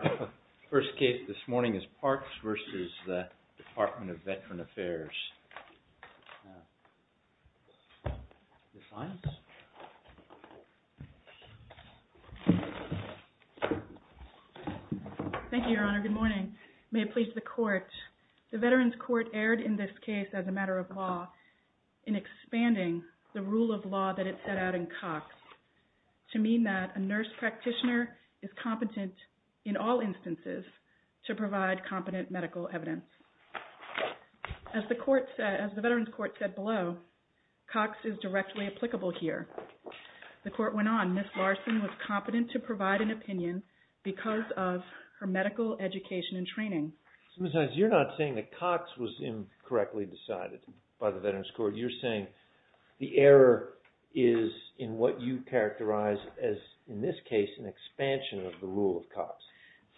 The first case this morning is PARKS v. Department of Veteran Affairs. Ms. Lyons? Thank you, Your Honor. Good morning. May it please the Court, the Veterans Court erred in this case as a matter of law in expanding the rule of law that it set out in Cox to mean that a nurse practitioner is competent in all instances to provide competent medical evidence. As the Veterans Court said below, Cox is directly applicable here. The Court went on, Ms. Larson was competent to provide an opinion because of her medical education and training. Ms. Lyons, you're not saying that Cox was incorrectly decided by the Veterans Court. You're saying the error is in what you characterize as, in this case, an expansion of the rule of Cox.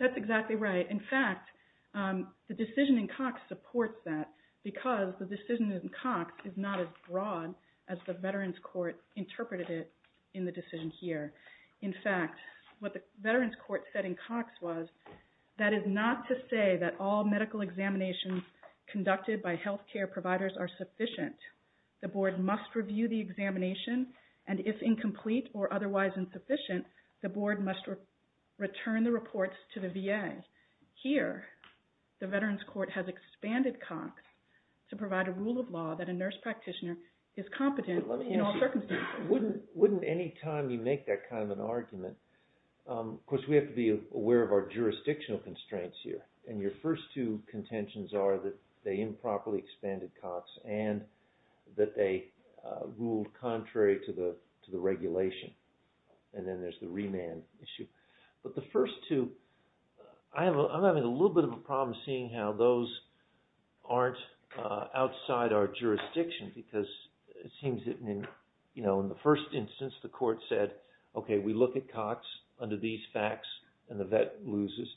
That's exactly right. In fact, the decision in Cox supports that because the decision in Cox is not as broad as the Veterans Court interpreted it in the decision here. In fact, what the Veterans Court said in Cox was, that is not to say that all medical examinations conducted by healthcare providers are sufficient. The Board must review the examination, and if incomplete or otherwise insufficient, the Board must return the reports to the VA. Here, the Veterans Court has expanded Cox to provide a rule of law that a nurse practitioner is competent in all circumstances. Wouldn't any time you make that kind of an argument, of course we have to be aware of our jurisdictional constraints here, and your first two contentions are that they improperly expanded Cox and that they ruled contrary to the regulation, and then there's the remand issue. But the first two, I'm having a little bit of a problem seeing how those aren't outside our jurisdiction because it seems that in the first instance, the court said, okay, we look at Cox under these facts and the vet loses,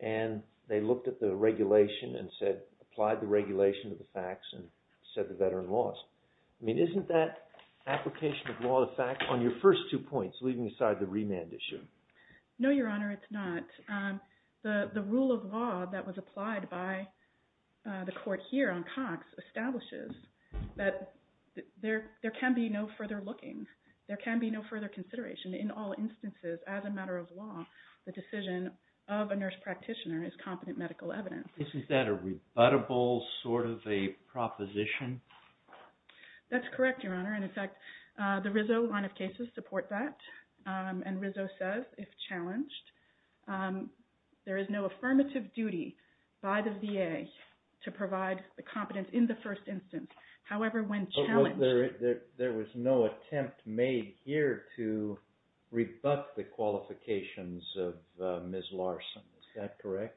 and they looked at the regulation and said, applied the regulation to the facts and said the veteran lost. I mean, isn't that application of law to fact on your first two points, leaving aside the remand issue? No, Your Honor, it's not. The rule of law that was applied by the court here on Cox establishes that there can be no further looking. There can be no further consideration. In all instances, as a matter of law, the decision of a nurse practitioner is competent medical evidence. Isn't that a rebuttable sort of a proposition? That's correct, Your Honor. And in fact, the Rizzo line of cases support that. And Rizzo says, if challenged, there is no affirmative duty by the VA to provide the competence in the first instance. However, when challenged... There was no attempt made here to rebut the qualifications of Ms. Larson. Is that correct?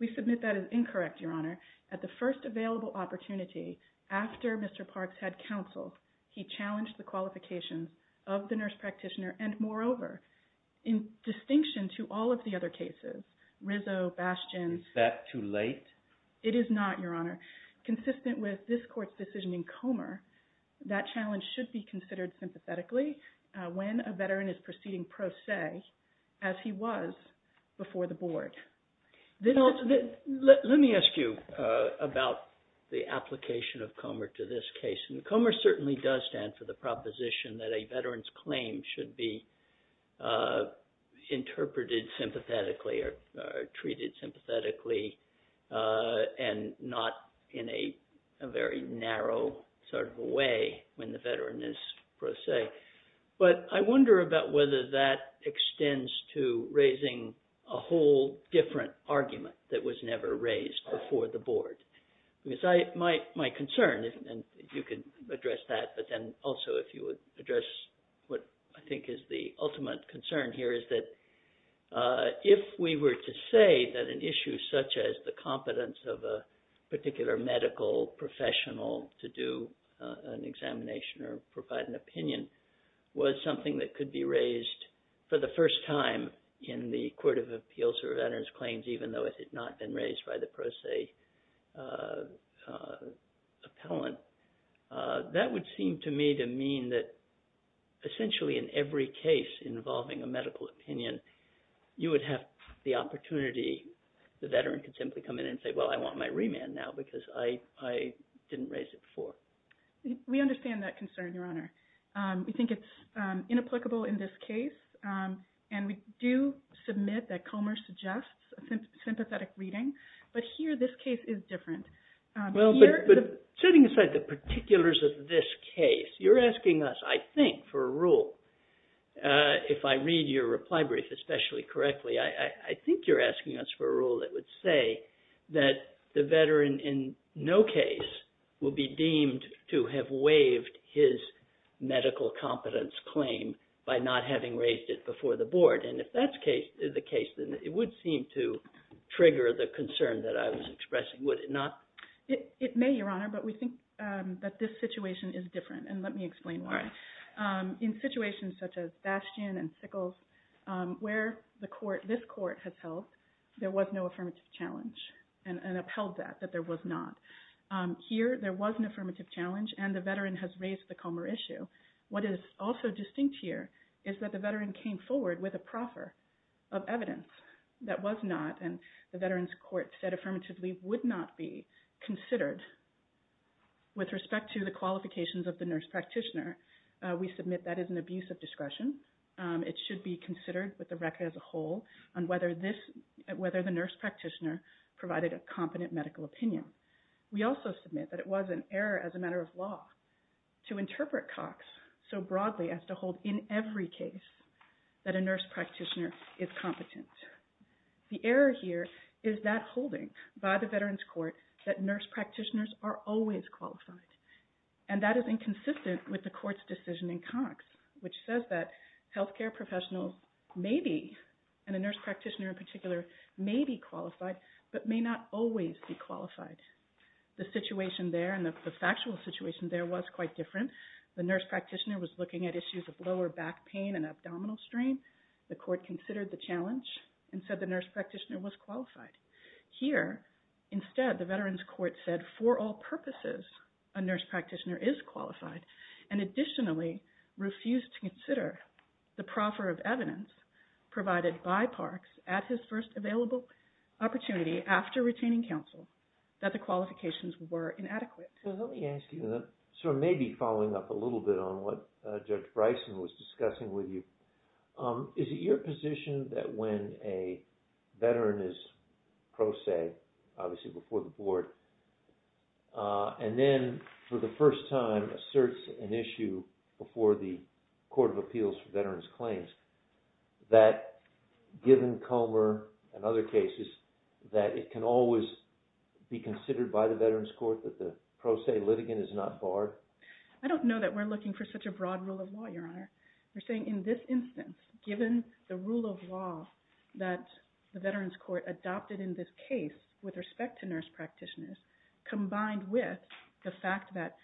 We submit that as incorrect, Your Honor. At the first available opportunity, after Mr. Parks had counsel, he challenged the qualifications of the nurse practitioner, and moreover, in distinction to all of the other cases, Rizzo, Bastian... Is that too late? It is not, Your Honor. Consistent with this court's decision in Comer, that challenge should be considered sympathetically when a veteran is proceeding pro se, as he was before the board. Let me ask you about the application of Comer to this case. And Comer certainly does stand for the proposition that a veteran's claim should be interpreted sympathetically or treated sympathetically and not in a very narrow sort of a way when the veteran is pro se. But I wonder about whether that extends to raising a whole different argument that was never raised before the board. Because my concern, and you can address that, but then also if you would address what I think is the ultimate concern here is that if we were to say that an issue such as the competence of a particular medical professional to do an examination or provide an opinion was something that could be raised for the first time in the Court of Appeals for Veterans Claims, even though it had not been raised by the pro se appellant, that would seem to me to mean that essentially in every case involving a medical opinion, you would have the opportunity, the veteran could simply come in and say, well, I want my remand now because I didn't raise it before. We understand that concern, Your Honor. We think it's inapplicable in this case. And we do submit that Comer suggests sympathetic reading. But here this case is different. Well, but setting aside the particulars of this case, you're asking us, I think, for a rule. If I read your reply brief especially correctly, I think you're asking us for a rule that would say that the veteran in no case will be deemed to have waived his medical competence claim by not having raised it before the board. And if that's the case, then it would seem to trigger the concern that I was expressing, would it not? That was not, and the Veterans Court said affirmatively would not be considered with respect to the qualifications of the nurse practitioner. We submit that as an abuse of discretion. It should be considered with the record as a whole on whether the nurse practitioner provided a competent medical opinion. We also submit that it was an error as a matter of law to interpret Cox so broadly as to hold in every case that a nurse practitioner is competent. The error here is that holding by the Veterans Court that nurse practitioners are always qualified. And that is inconsistent with the court's decision in Cox, which says that healthcare professionals may be, and a nurse practitioner in particular, may be qualified, but may not always be qualified. The situation there and the factual situation there was quite different. The nurse practitioner was looking at issues of lower back pain and abdominal strain. The court considered the challenge and said the nurse practitioner was qualified. Here, instead, the Veterans Court said for all purposes, a nurse practitioner is qualified, and additionally refused to consider the proffer of evidence provided by Parks at his first available opportunity after retaining counsel that the qualifications were inadequate. Let me ask you, sort of maybe following up a little bit on what Judge Bryson was discussing with you. Is it your position that when a veteran is pro se, obviously before the board, and then for the first time asserts an issue before the Court of Appeals for Veterans Claims, that given Comer and other cases, that it can always be considered by the Veterans Court that the pro se litigant is not barred? I don't know that we're looking for such a broad rule of law, Your Honor. We're saying in this instance, given the rule of law that the Veterans Court adopted in this case with respect to nurse practitioners, combined with the fact that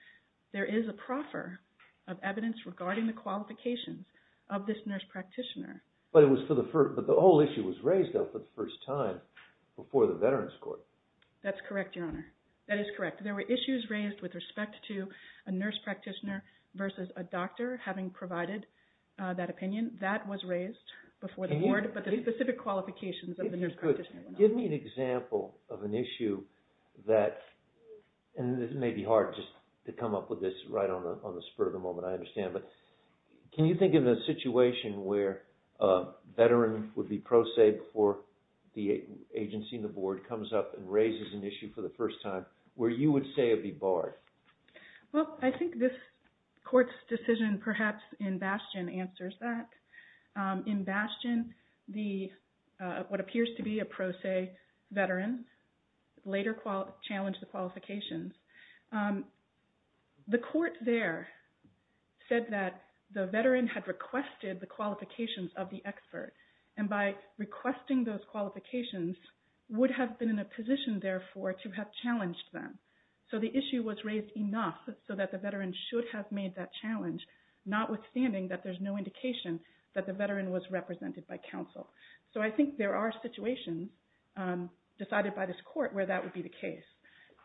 there is a proffer of evidence regarding the qualifications of this nurse practitioner. But the whole issue was raised for the first time before the Veterans Court. That's correct, Your Honor. That is correct. There were issues raised with respect to a nurse practitioner versus a doctor having provided that opinion. That was raised before the board, but the specific qualifications of the nurse practitioner were not. It may be hard just to come up with this right on the spur of the moment, I understand. But can you think of a situation where a veteran would be pro se before the agency and the board comes up and raises an issue for the first time, where you would say it would be barred? Well, I think this court's decision perhaps in Bastion answers that. In Bastion, what appears to be a pro se veteran later challenged the qualifications. The court there said that the veteran had requested the qualifications of the expert, and by requesting those qualifications would have been in a position, therefore, to have challenged them. So the issue was raised enough so that the veteran should have made that challenge, notwithstanding that there's no indication that the veteran was represented by counsel. So I think there are situations decided by this court where that would be the case.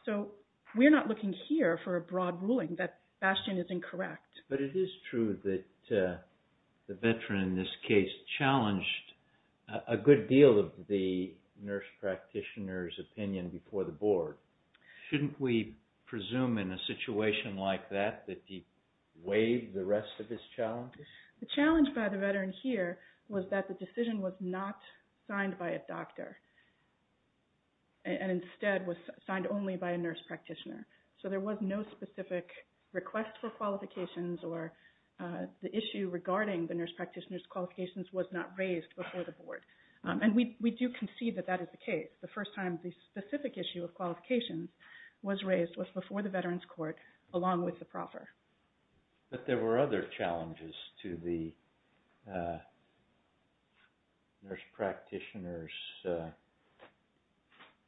So we're not looking here for a broad ruling that Bastion is incorrect. But it is true that the veteran in this case challenged a good deal of the nurse practitioner's opinion before the board. Shouldn't we presume in a situation like that that he waived the rest of his challenge? The challenge by the veteran here was that the decision was not signed by a doctor and instead was signed only by a nurse practitioner. So there was no specific request for qualifications or the issue regarding the nurse practitioner's qualifications was not raised before the board. And we do concede that that is the case. The first time the specific issue of qualifications was raised was before the veterans court, along with the proffer. But there were other challenges to the nurse practitioner's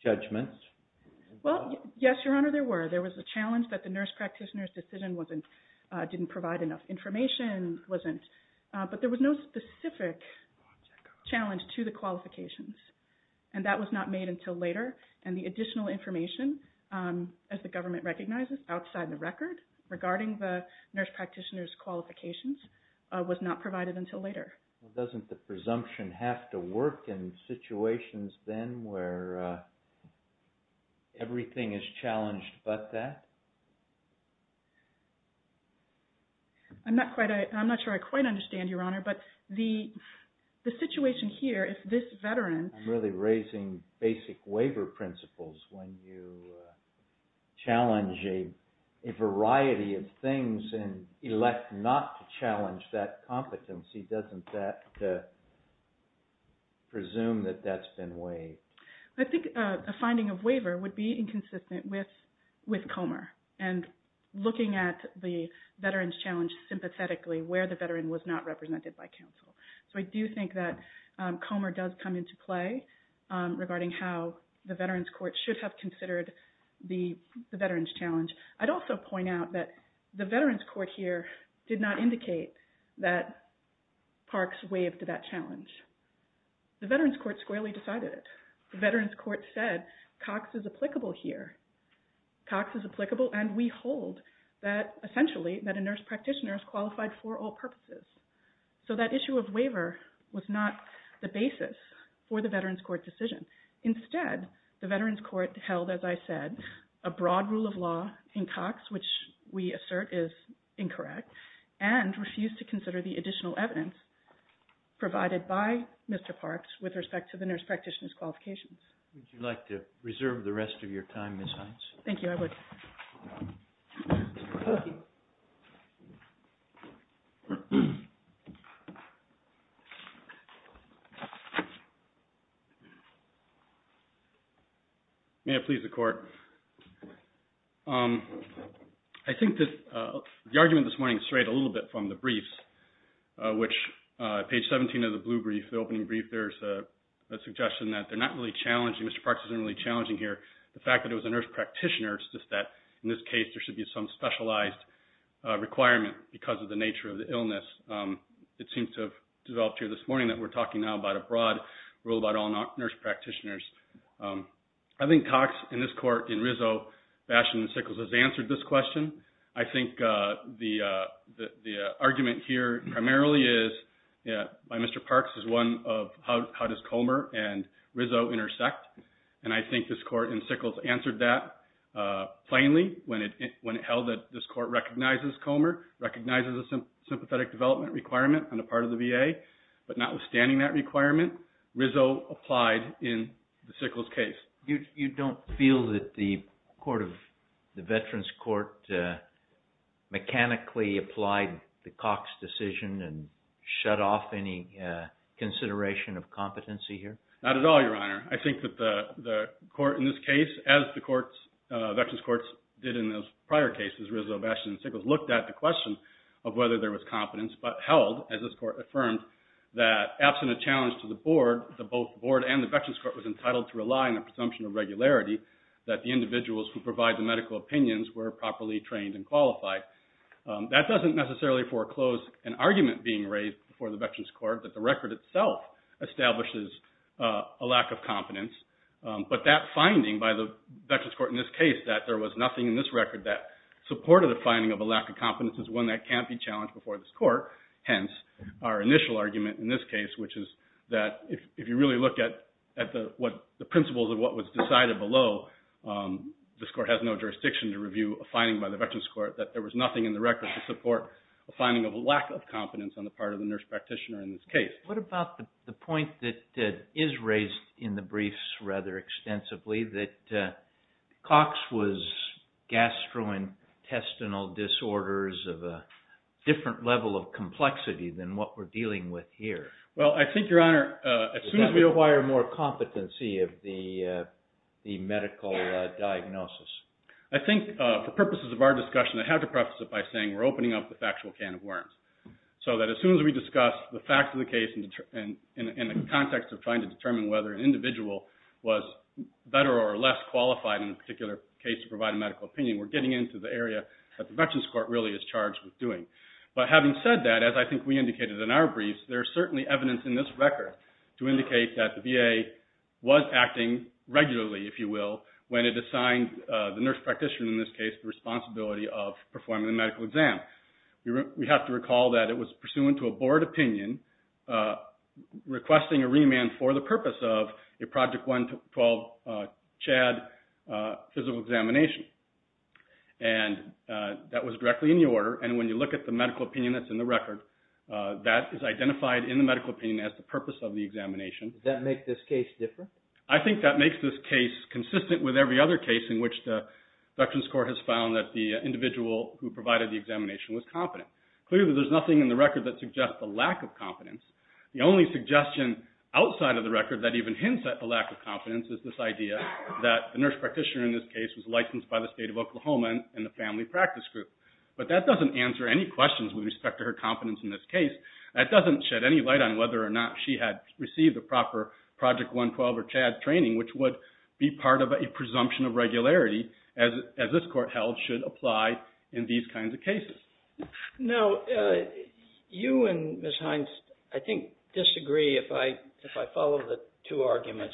judgments. Well, yes, Your Honor, there were. There was a challenge that the nurse practitioner's decision didn't provide enough information, but there was no specific challenge to the qualifications. And that was not made until later. And the additional information, as the government recognizes, outside the record regarding the nurse practitioner's qualifications was not provided until later. Doesn't the presumption have to work in situations then where everything is challenged but that? I'm not sure I quite understand, Your Honor, but the situation here is this veteran. I'm really raising basic waiver principles. When you challenge a variety of things and elect not to challenge that competency, doesn't that presume that that's been waived? I think a finding of waiver would be inconsistent with Comer and looking at the veterans challenge sympathetically where the veteran was not represented by counsel. So I do think that Comer does come into play regarding how the veterans court should have considered the veterans challenge. I'd also point out that the veterans court here did not indicate that Parks waived that challenge. The veterans court squarely decided it. The veterans court said Cox is applicable here. Cox is applicable and we hold that essentially that a nurse practitioner is qualified for all purposes. So that issue of waiver was not the basis for the veterans court decision. Instead, the veterans court held, as I said, a broad rule of law in Cox, which we assert is incorrect, and refused to consider the additional evidence provided by Mr. Parks with respect to the nurse practitioner's qualifications. Would you like to reserve the rest of your time, Ms. Hines? Thank you. I would. May it please the Court. I think that the argument this morning strayed a little bit from the briefs, which page 17 of the blue brief, the opening brief, there's a suggestion that they're not really challenging. Mr. Parks isn't really challenging here. The fact that it was a nurse practitioner, it's just that in this case there should be some specialized requirement because of the nature of the illness. It seems to have developed here this morning that we're talking now about a broad rule about all nurse practitioners. I think Cox in this court, in Rizzo, Basham, and Sickles has answered this question. I think the argument here primarily is, by Mr. Parks, is one of how does Comer and Rizzo intersect. I think this court in Sickles answered that plainly when it held that this court recognizes Comer, recognizes a sympathetic development requirement on the part of the VA, but notwithstanding that requirement, Rizzo applied in the Sickles case. You don't feel that the Veterans Court mechanically applied the Cox decision and shut off any consideration of competency here? Not at all, Your Honor. I think that the court in this case, as the courts, Veterans Courts did in those prior cases, Rizzo, Basham, and Sickles, looked at the question of whether there was competence, but held, as this court affirmed, that absent a challenge to the board, that both the board and the Veterans Court was entitled to rely on the presumption of regularity that the individuals who provide the medical opinions were properly trained and qualified. That doesn't necessarily foreclose an argument being raised before the Veterans Court that the record itself establishes a lack of competence, but that finding by the Veterans Court in this case that there was nothing in this record that supported a finding of a lack of competence is one that can't be challenged before this court. Hence, our initial argument in this case, which is that if you really look at the principles of what was decided below, this court has no jurisdiction to review a finding by the Veterans Court that there was nothing in the record to support a finding of a lack of competence on the part of the nurse practitioner in this case. What about the point that is raised in the briefs rather extensively, that Cox was gastrointestinal disorders of a different level of complexity than what we're dealing with here? Well, I think, Your Honor, as soon as we acquire more competency of the medical diagnosis, I think for purposes of our discussion, I have to preface it by saying we're opening up the factual can of worms. So that as soon as we discuss the facts of the case in the context of trying to determine whether an individual was better or less qualified in a particular case to provide a medical opinion, we're getting into the area that the Veterans Court really is charged with doing. But having said that, as I think we indicated in our briefs, there's certainly evidence in this record to indicate that the VA was acting regularly, if you will, when it assigned the nurse practitioner in this case the responsibility of performing the medical exam. We have to recall that it was pursuant to a board opinion requesting a remand for the purpose of a Project 112 CHAD physical examination. And that was directly in the order. And when you look at the medical opinion that's in the record, that is identified in the medical opinion as the purpose of the examination. Does that make this case different? I think that makes this case consistent with every other case in which the Veterans Court has found that the individual who provided the examination was competent. Clearly, there's nothing in the record that suggests a lack of competence. The only suggestion outside of the record that even hints at the lack of competence is this idea that the nurse practitioner in this case was licensed by the State of Oklahoma and the family practice group. But that doesn't answer any questions with respect to her competence in this case. That doesn't shed any light on whether or not she had received the proper Project 112 or CHAD training, which would be part of a presumption of regularity as this court held should apply in these kinds of cases. Now, you and Ms. Hines, I think, disagree if I follow the two arguments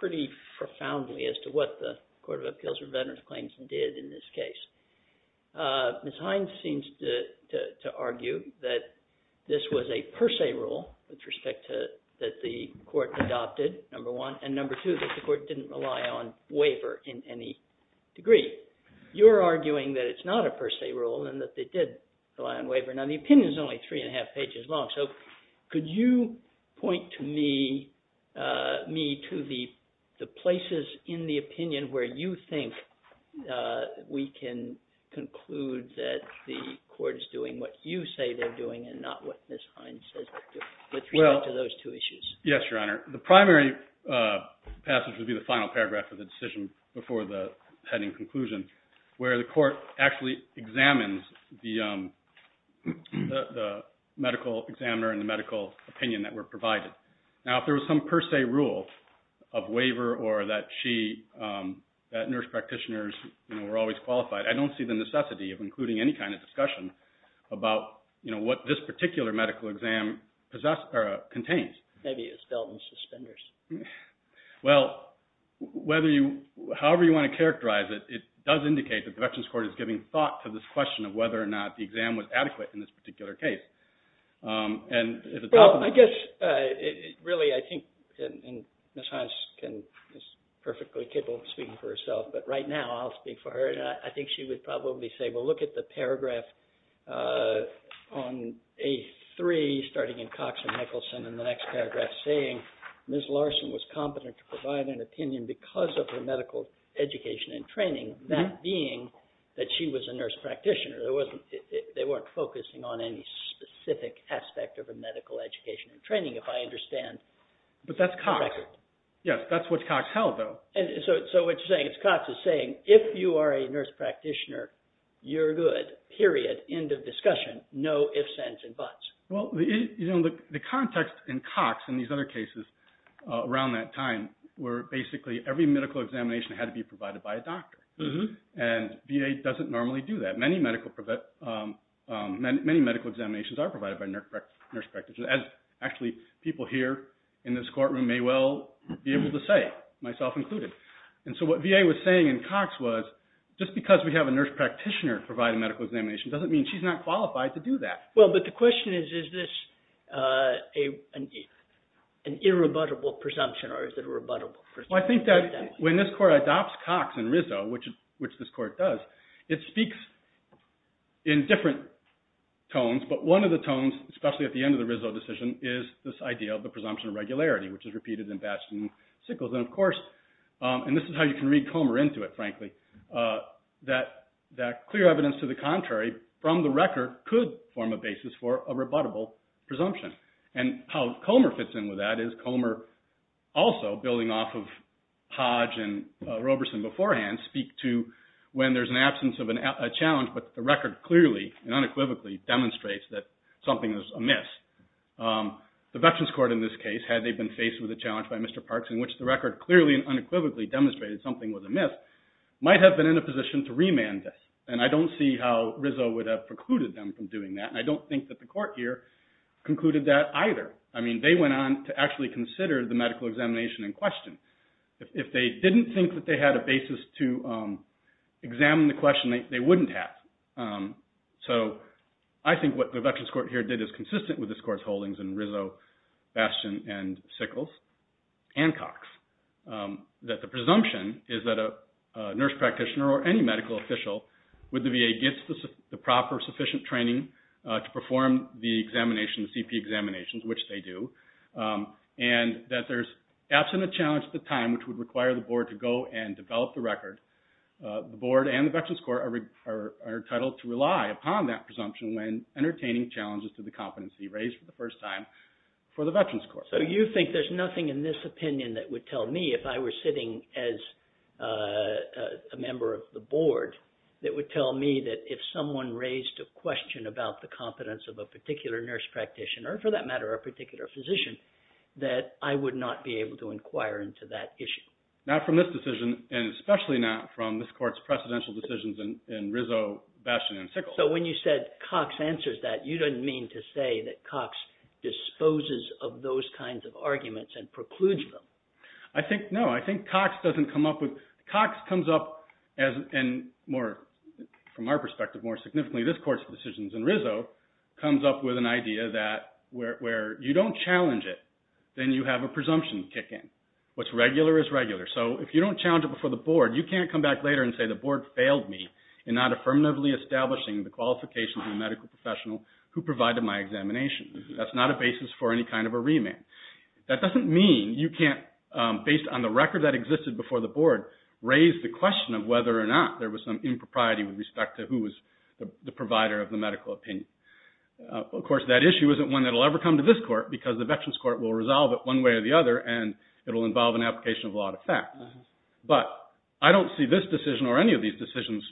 pretty profoundly as to what the Court of Appeals for Veterans Claims did in this case. Ms. Hines seems to argue that this was a per se rule with respect to – that the court adopted, number one, and number two, that the court didn't rely on waiver in any degree. You're arguing that it's not a per se rule and that they did rely on waiver. Now, the opinion is only three and a half pages long, so could you point me to the places in the opinion where you think we can conclude that the court is doing what you say they're doing and not what Ms. Hines says they're doing with regard to those two issues? Yes, Your Honor. The primary passage would be the final paragraph of the decision before the heading conclusion where the court actually examines the medical examiner and the medical opinion that were provided. Now, if there was some per se rule of waiver or that she – that nurse practitioners were always qualified, I don't see the necessity of including any kind of discussion about what this particular medical exam contains. Maybe it's dealt in suspenders. Well, whether you – however you want to characterize it, it does indicate that the Veterans Court is giving thought to this question of whether or not the exam was adequate in this particular case. Well, I guess really I think Ms. Hines is perfectly capable of speaking for herself, but right now I'll speak for her. I think she would probably say, well, look at the paragraph on A3 starting in Cox and Nicholson and the next paragraph saying Ms. Larson was competent to provide an opinion because of her medical education and training, that being that she was a nurse practitioner. They weren't focusing on any specific aspect of her medical education and training, if I understand correctly. But that's Cox. Yes, that's what Cox held, though. So what you're saying is Cox is saying if you are a nurse practitioner, you're good, period, end of discussion, no ifs, ands, and buts. Well, the context in Cox and these other cases around that time were basically every medical examination had to be provided by a doctor, and VA doesn't normally do that. Many medical examinations are provided by nurse practitioners, as actually people here in this courtroom may well be able to say, myself included. And so what VA was saying in Cox was just because we have a nurse practitioner provide a medical examination doesn't mean she's not qualified to do that. Well, but the question is, is this an irrebuttable presumption or is it a rebuttable presumption? Well, I think that when this court adopts Cox and Rizzo, which this court does, it speaks in different tones. But one of the tones, especially at the end of the Rizzo decision, is this idea of the presumption of regularity, which is repeated in Bastian and Sickles. And of course, and this is how you can read Comer into it, frankly, that clear evidence to the contrary from the record could form a basis for a rebuttable presumption. And how Comer fits in with that is Comer also, building off of Hodge and Roberson beforehand, speak to when there's an absence of a challenge, but the record clearly and unequivocally demonstrates that something is amiss. The Veterans Court in this case, had they been faced with a challenge by Mr. Parks, in which the record clearly and unequivocally demonstrated something was amiss, might have been in a position to remand this. And I don't see how Rizzo would have precluded them from doing that, and I don't think that the court here concluded that either. I mean, they went on to actually consider the medical examination in question. If they didn't think that they had a basis to examine the question, they wouldn't have. So, I think what the Veterans Court here did is consistent with this court's holdings in Rizzo, Bastian, and Sickles, and Cox. That the presumption is that a nurse practitioner or any medical official with the VA gets the proper sufficient training to perform the examination, the CP examinations, which they do. And that there's absence of challenge at the time, which would require the board to go and develop the record. The board and the Veterans Court are entitled to rely upon that presumption when entertaining challenges to the competency raised for the first time for the Veterans Court. So, you think there's nothing in this opinion that would tell me, if I were sitting as a member of the board, that would tell me that if someone raised a question about the competence of a particular nurse practitioner, or for that matter, a particular physician, that I would not be able to inquire into that issue? Not from this decision, and especially not from this court's precedential decisions in Rizzo, Bastian, and Sickles. So, when you said Cox answers that, you didn't mean to say that Cox disposes of those kinds of arguments and precludes them. I think, no, I think Cox doesn't come up with, Cox comes up as, and more, from our perspective, more significantly, this court's decisions in Rizzo, comes up with an idea that where you don't challenge it, then you have a presumption kick in. What's regular is regular. So, if you don't challenge it before the board, you can't come back later and say the board failed me in not affirmatively establishing the qualifications of a medical professional who provided my examination. That's not a basis for any kind of a remand. That doesn't mean you can't, based on the record that existed before the board, raise the question of whether or not there was some impropriety with respect to who was the provider of the medical opinion. Of course, that issue isn't one that will ever come to this court because the Veterans Court will resolve it one way or the other, and it will involve an application of law to fact. But I don't see this decision or any of these decisions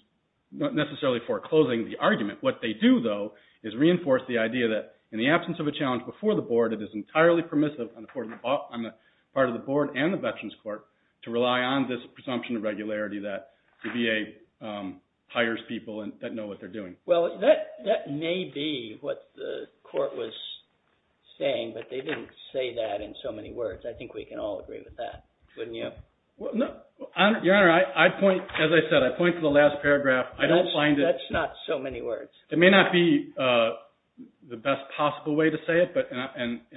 necessarily foreclosing the argument. What they do, though, is reinforce the idea that in the absence of a challenge before the board, it is entirely permissive on the part of the board and the Veterans Court to rely on this presumption of regularity that the VA hires people that know what they're doing. Well, that may be what the court was saying, but they didn't say that in so many words. I think we can all agree with that, wouldn't you? Your Honor, as I said, I point to the last paragraph. That's not so many words. It may not be the best possible way to say it, but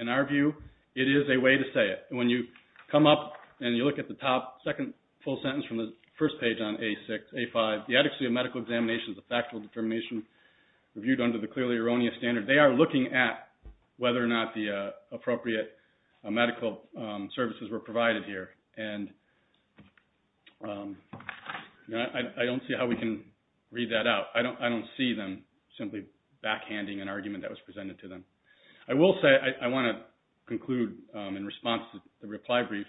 in our view, it is a way to say it. When you come up and you look at the top second full sentence from the first page on A5, the adequacy of medical examination is a factual determination reviewed under the clearly erroneous standard. They are looking at whether or not the appropriate medical services were provided here, and I don't see how we can read that out. I don't see them simply backhanding an argument that was presented to them. I will say I want to conclude in response to the reply brief,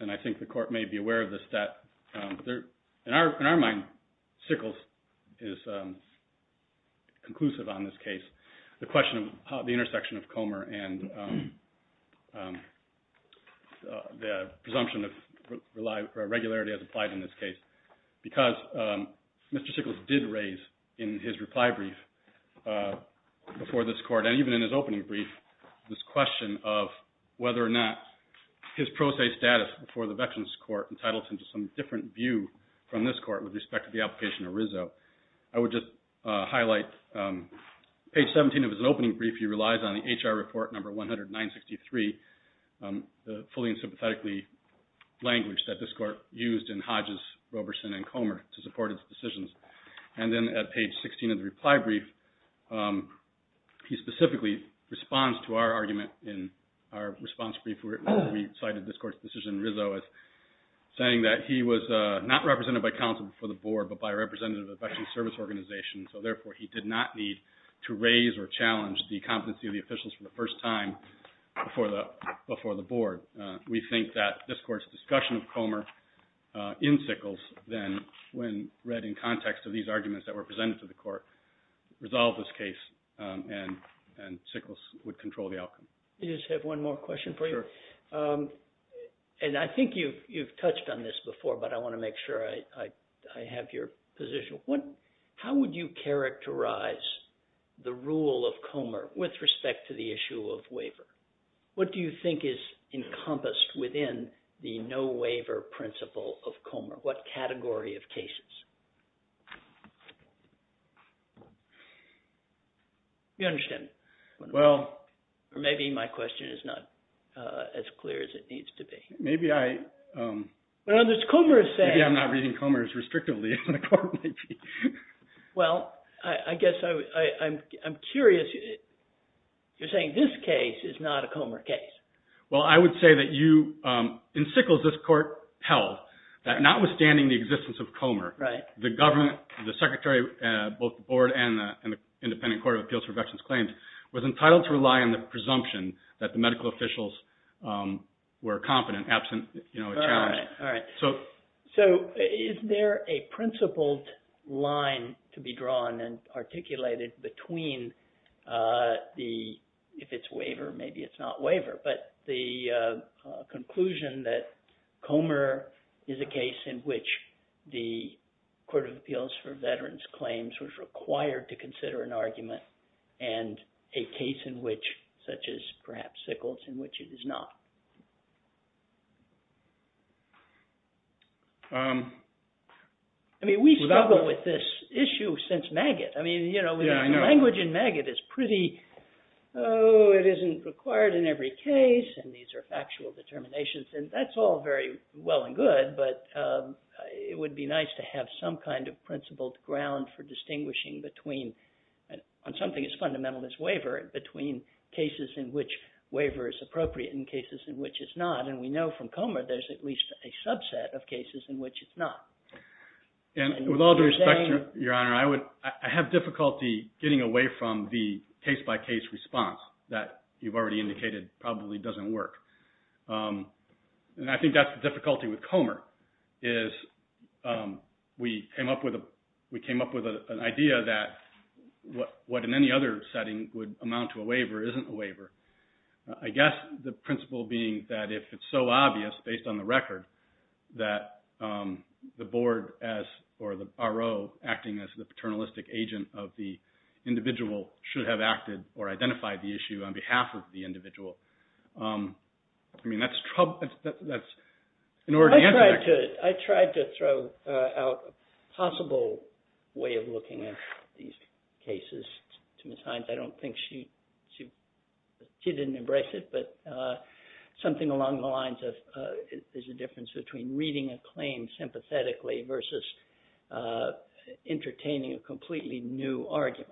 and I think the court may be aware of this, that in our mind, Sickles is conclusive on this case. The question of the intersection of Comer and the presumption of regularity as applied in this case, because Mr. Sickles did raise in his reply brief before this court, and even in his opening brief, this question of whether or not his pro se status before the Veterans Court entitled him to some different view from this court with respect to the application of Rizzo. I would just highlight page 17 of his opening brief, he relies on the HR report number 10963, the fully and sympathetically language that this court used in Hodges, Roberson and Comer to support its decisions. And then at page 16 of the reply brief, he specifically responds to our argument in our response brief where we cited this court's decision, Rizzo, as saying that he was not represented by counsel before the board, but by a representative of the Veterans Service Organization, so therefore he did not need to raise or challenge the competency of the officials for the first time before the board. We think that this court's discussion of Comer in Sickles then, when read in context of these arguments that were presented to the court, resolved this case and Sickles would control the outcome. I just have one more question for you. And I think you've touched on this before, but I want to make sure I have your position. How would you characterize the rule of Comer with respect to the issue of waiver? What do you think is encompassed within the no waiver principle of Comer? What category of cases? You understand, or maybe my question is not as clear as it needs to be. Maybe I'm not reading Comer as restrictively in the court. Well, I guess I'm curious. You're saying this case is not a Comer case. Well, I would say that in Sickles, this court held that notwithstanding the existence of Comer, the government, the secretary, both the board and the Independent Court of Appeals for Veterans Claims, was entitled to rely on the presumption that the medical officials were competent absent a challenge. So is there a principled line to be drawn and articulated between the, if it's waiver, maybe it's not waiver, but the conclusion that Comer is a case in which the Court of Appeals for Veterans Claims was required to consider an argument and a case in which, such as perhaps Sickles, in which it is not? I mean, we struggle with this issue since Maggott. I mean, you know, the language in Maggott is pretty, oh, it isn't required in every case, and these are factual determinations, and that's all very well and good, but it would be nice to have some kind of principled ground for distinguishing between something as fundamental as waiver and between cases in which waiver is appropriate and cases in which it's not. And we know from Comer there's at least a subset of cases in which it's not. And with all due respect, Your Honor, I have difficulty getting away from the case-by-case response that you've already indicated probably doesn't work. And I think that's the difficulty with Comer is we came up with an idea that what in any other setting would amount to a waiver isn't a waiver. I guess the principle being that if it's so obvious based on the record that the board or the RO acting as the paternalistic agent of the individual should have acted or identified the issue on behalf of the individual. I mean, that's in order to answer that question. I tried to throw out a possible way of looking at these cases to Ms. Hines. I don't think she didn't embrace it, but something along the lines of there's a difference between reading a claim sympathetically versus entertaining a completely new argument.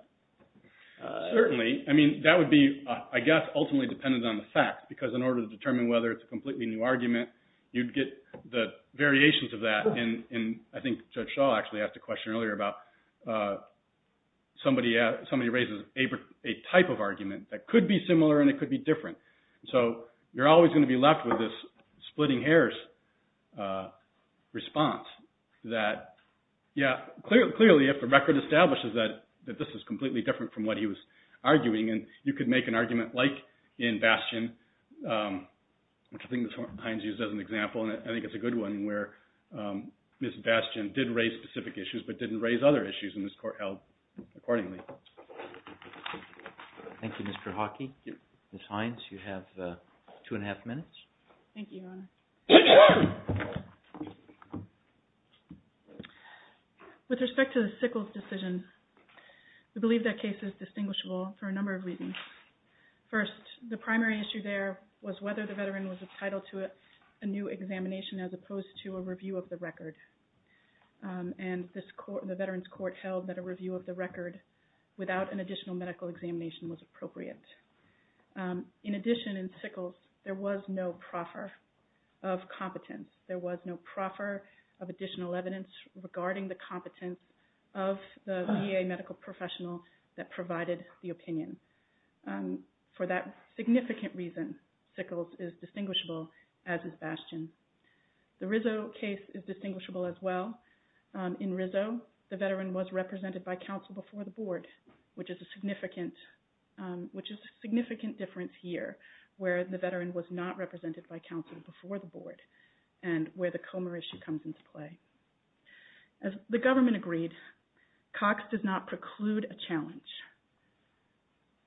Certainly. I mean, that would be, I guess, ultimately dependent on the fact because in order to determine whether it's a completely new argument, you'd get the variations of that. And I think Judge Shaw actually asked a question earlier about somebody raises a type of argument that could be similar and it could be different. So you're always going to be left with this splitting hairs response that, yeah, clearly if the record establishes that this is completely different from what he was arguing, and you could make an argument like in Bastion, which I think Ms. Hines used as an example, and I think it's a good one, where Ms. Bastion did raise specific issues but didn't raise other issues in this court held accordingly. Thank you, Mr. Hawkey. Ms. Hines, you have two and a half minutes. Thank you, Your Honor. With respect to the Sickles decision, we believe that case is distinguishable for a number of reasons. First, the primary issue there was whether the veteran was entitled to a new examination as opposed to a review of the record. And the Veterans Court held that a review of the record without an additional medical examination was appropriate. In addition, in Sickles, there was no proffer of competence. There was no proffer of additional evidence regarding the competence of the VA medical professional that provided the opinion. For that significant reason, Sickles is distinguishable as is Bastion. The Rizzo case is distinguishable as well. In Rizzo, the veteran was represented by counsel before the board, which is a significant difference here, where the veteran was not represented by counsel before the board and where the Comer issue comes into play. As the government agreed, Cox does not preclude a challenge.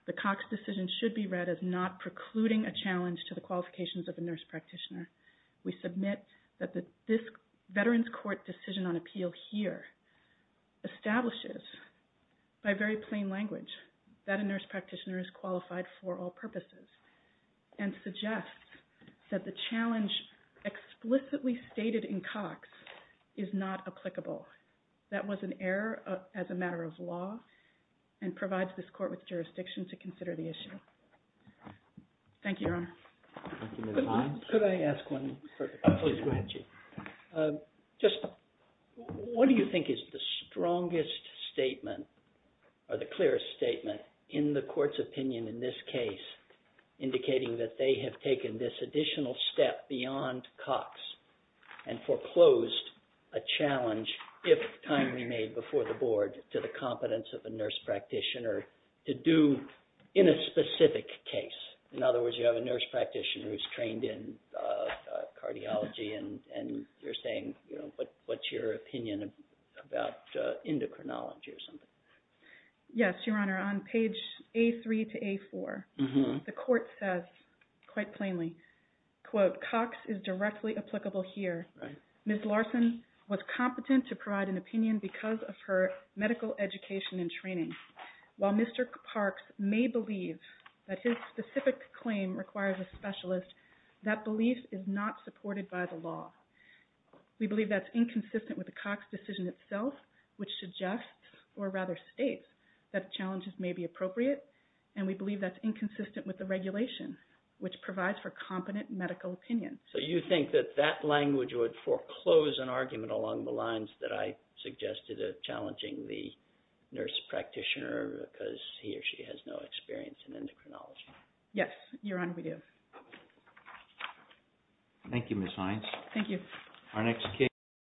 The Cox decision should be read as not precluding a challenge to the qualifications of a nurse practitioner. We submit that this Veterans Court decision on appeal here establishes, by very plain language, that a nurse practitioner is qualified for all purposes and suggests that the challenge explicitly stated in Cox is not applicable. That was an error as a matter of law and provides this court with jurisdiction to consider the issue. Thank you, Your Honor. Could I ask one further question? Please go ahead, Chief. Just what do you think is the strongest statement or the clearest statement in the court's opinion in this case indicating that they have taken this additional step beyond Cox and foreclosed a challenge, if timely made before the board, to the competence of a nurse practitioner to do in a specific case? In other words, you have a nurse practitioner who's trained in cardiology and you're saying, what's your opinion about endocrinology or something? Yes, Your Honor. On page A3 to A4, the court says quite plainly, quote, Cox is directly applicable here. Ms. Larson was competent to provide an opinion because of her medical education and training. While Mr. Parks may believe that his specific claim requires a specialist, that belief is not supported by the law. We believe that's inconsistent with the Cox decision itself, which suggests or rather states that challenges may be appropriate, and we believe that's inconsistent with the regulation, which provides for competent medical opinion. So you think that that language would foreclose an argument along the lines that I suggested of challenging the nurse practitioner because he or she has no experience in endocrinology? Yes, Your Honor, we do. Thank you, Ms. Hines. Thank you.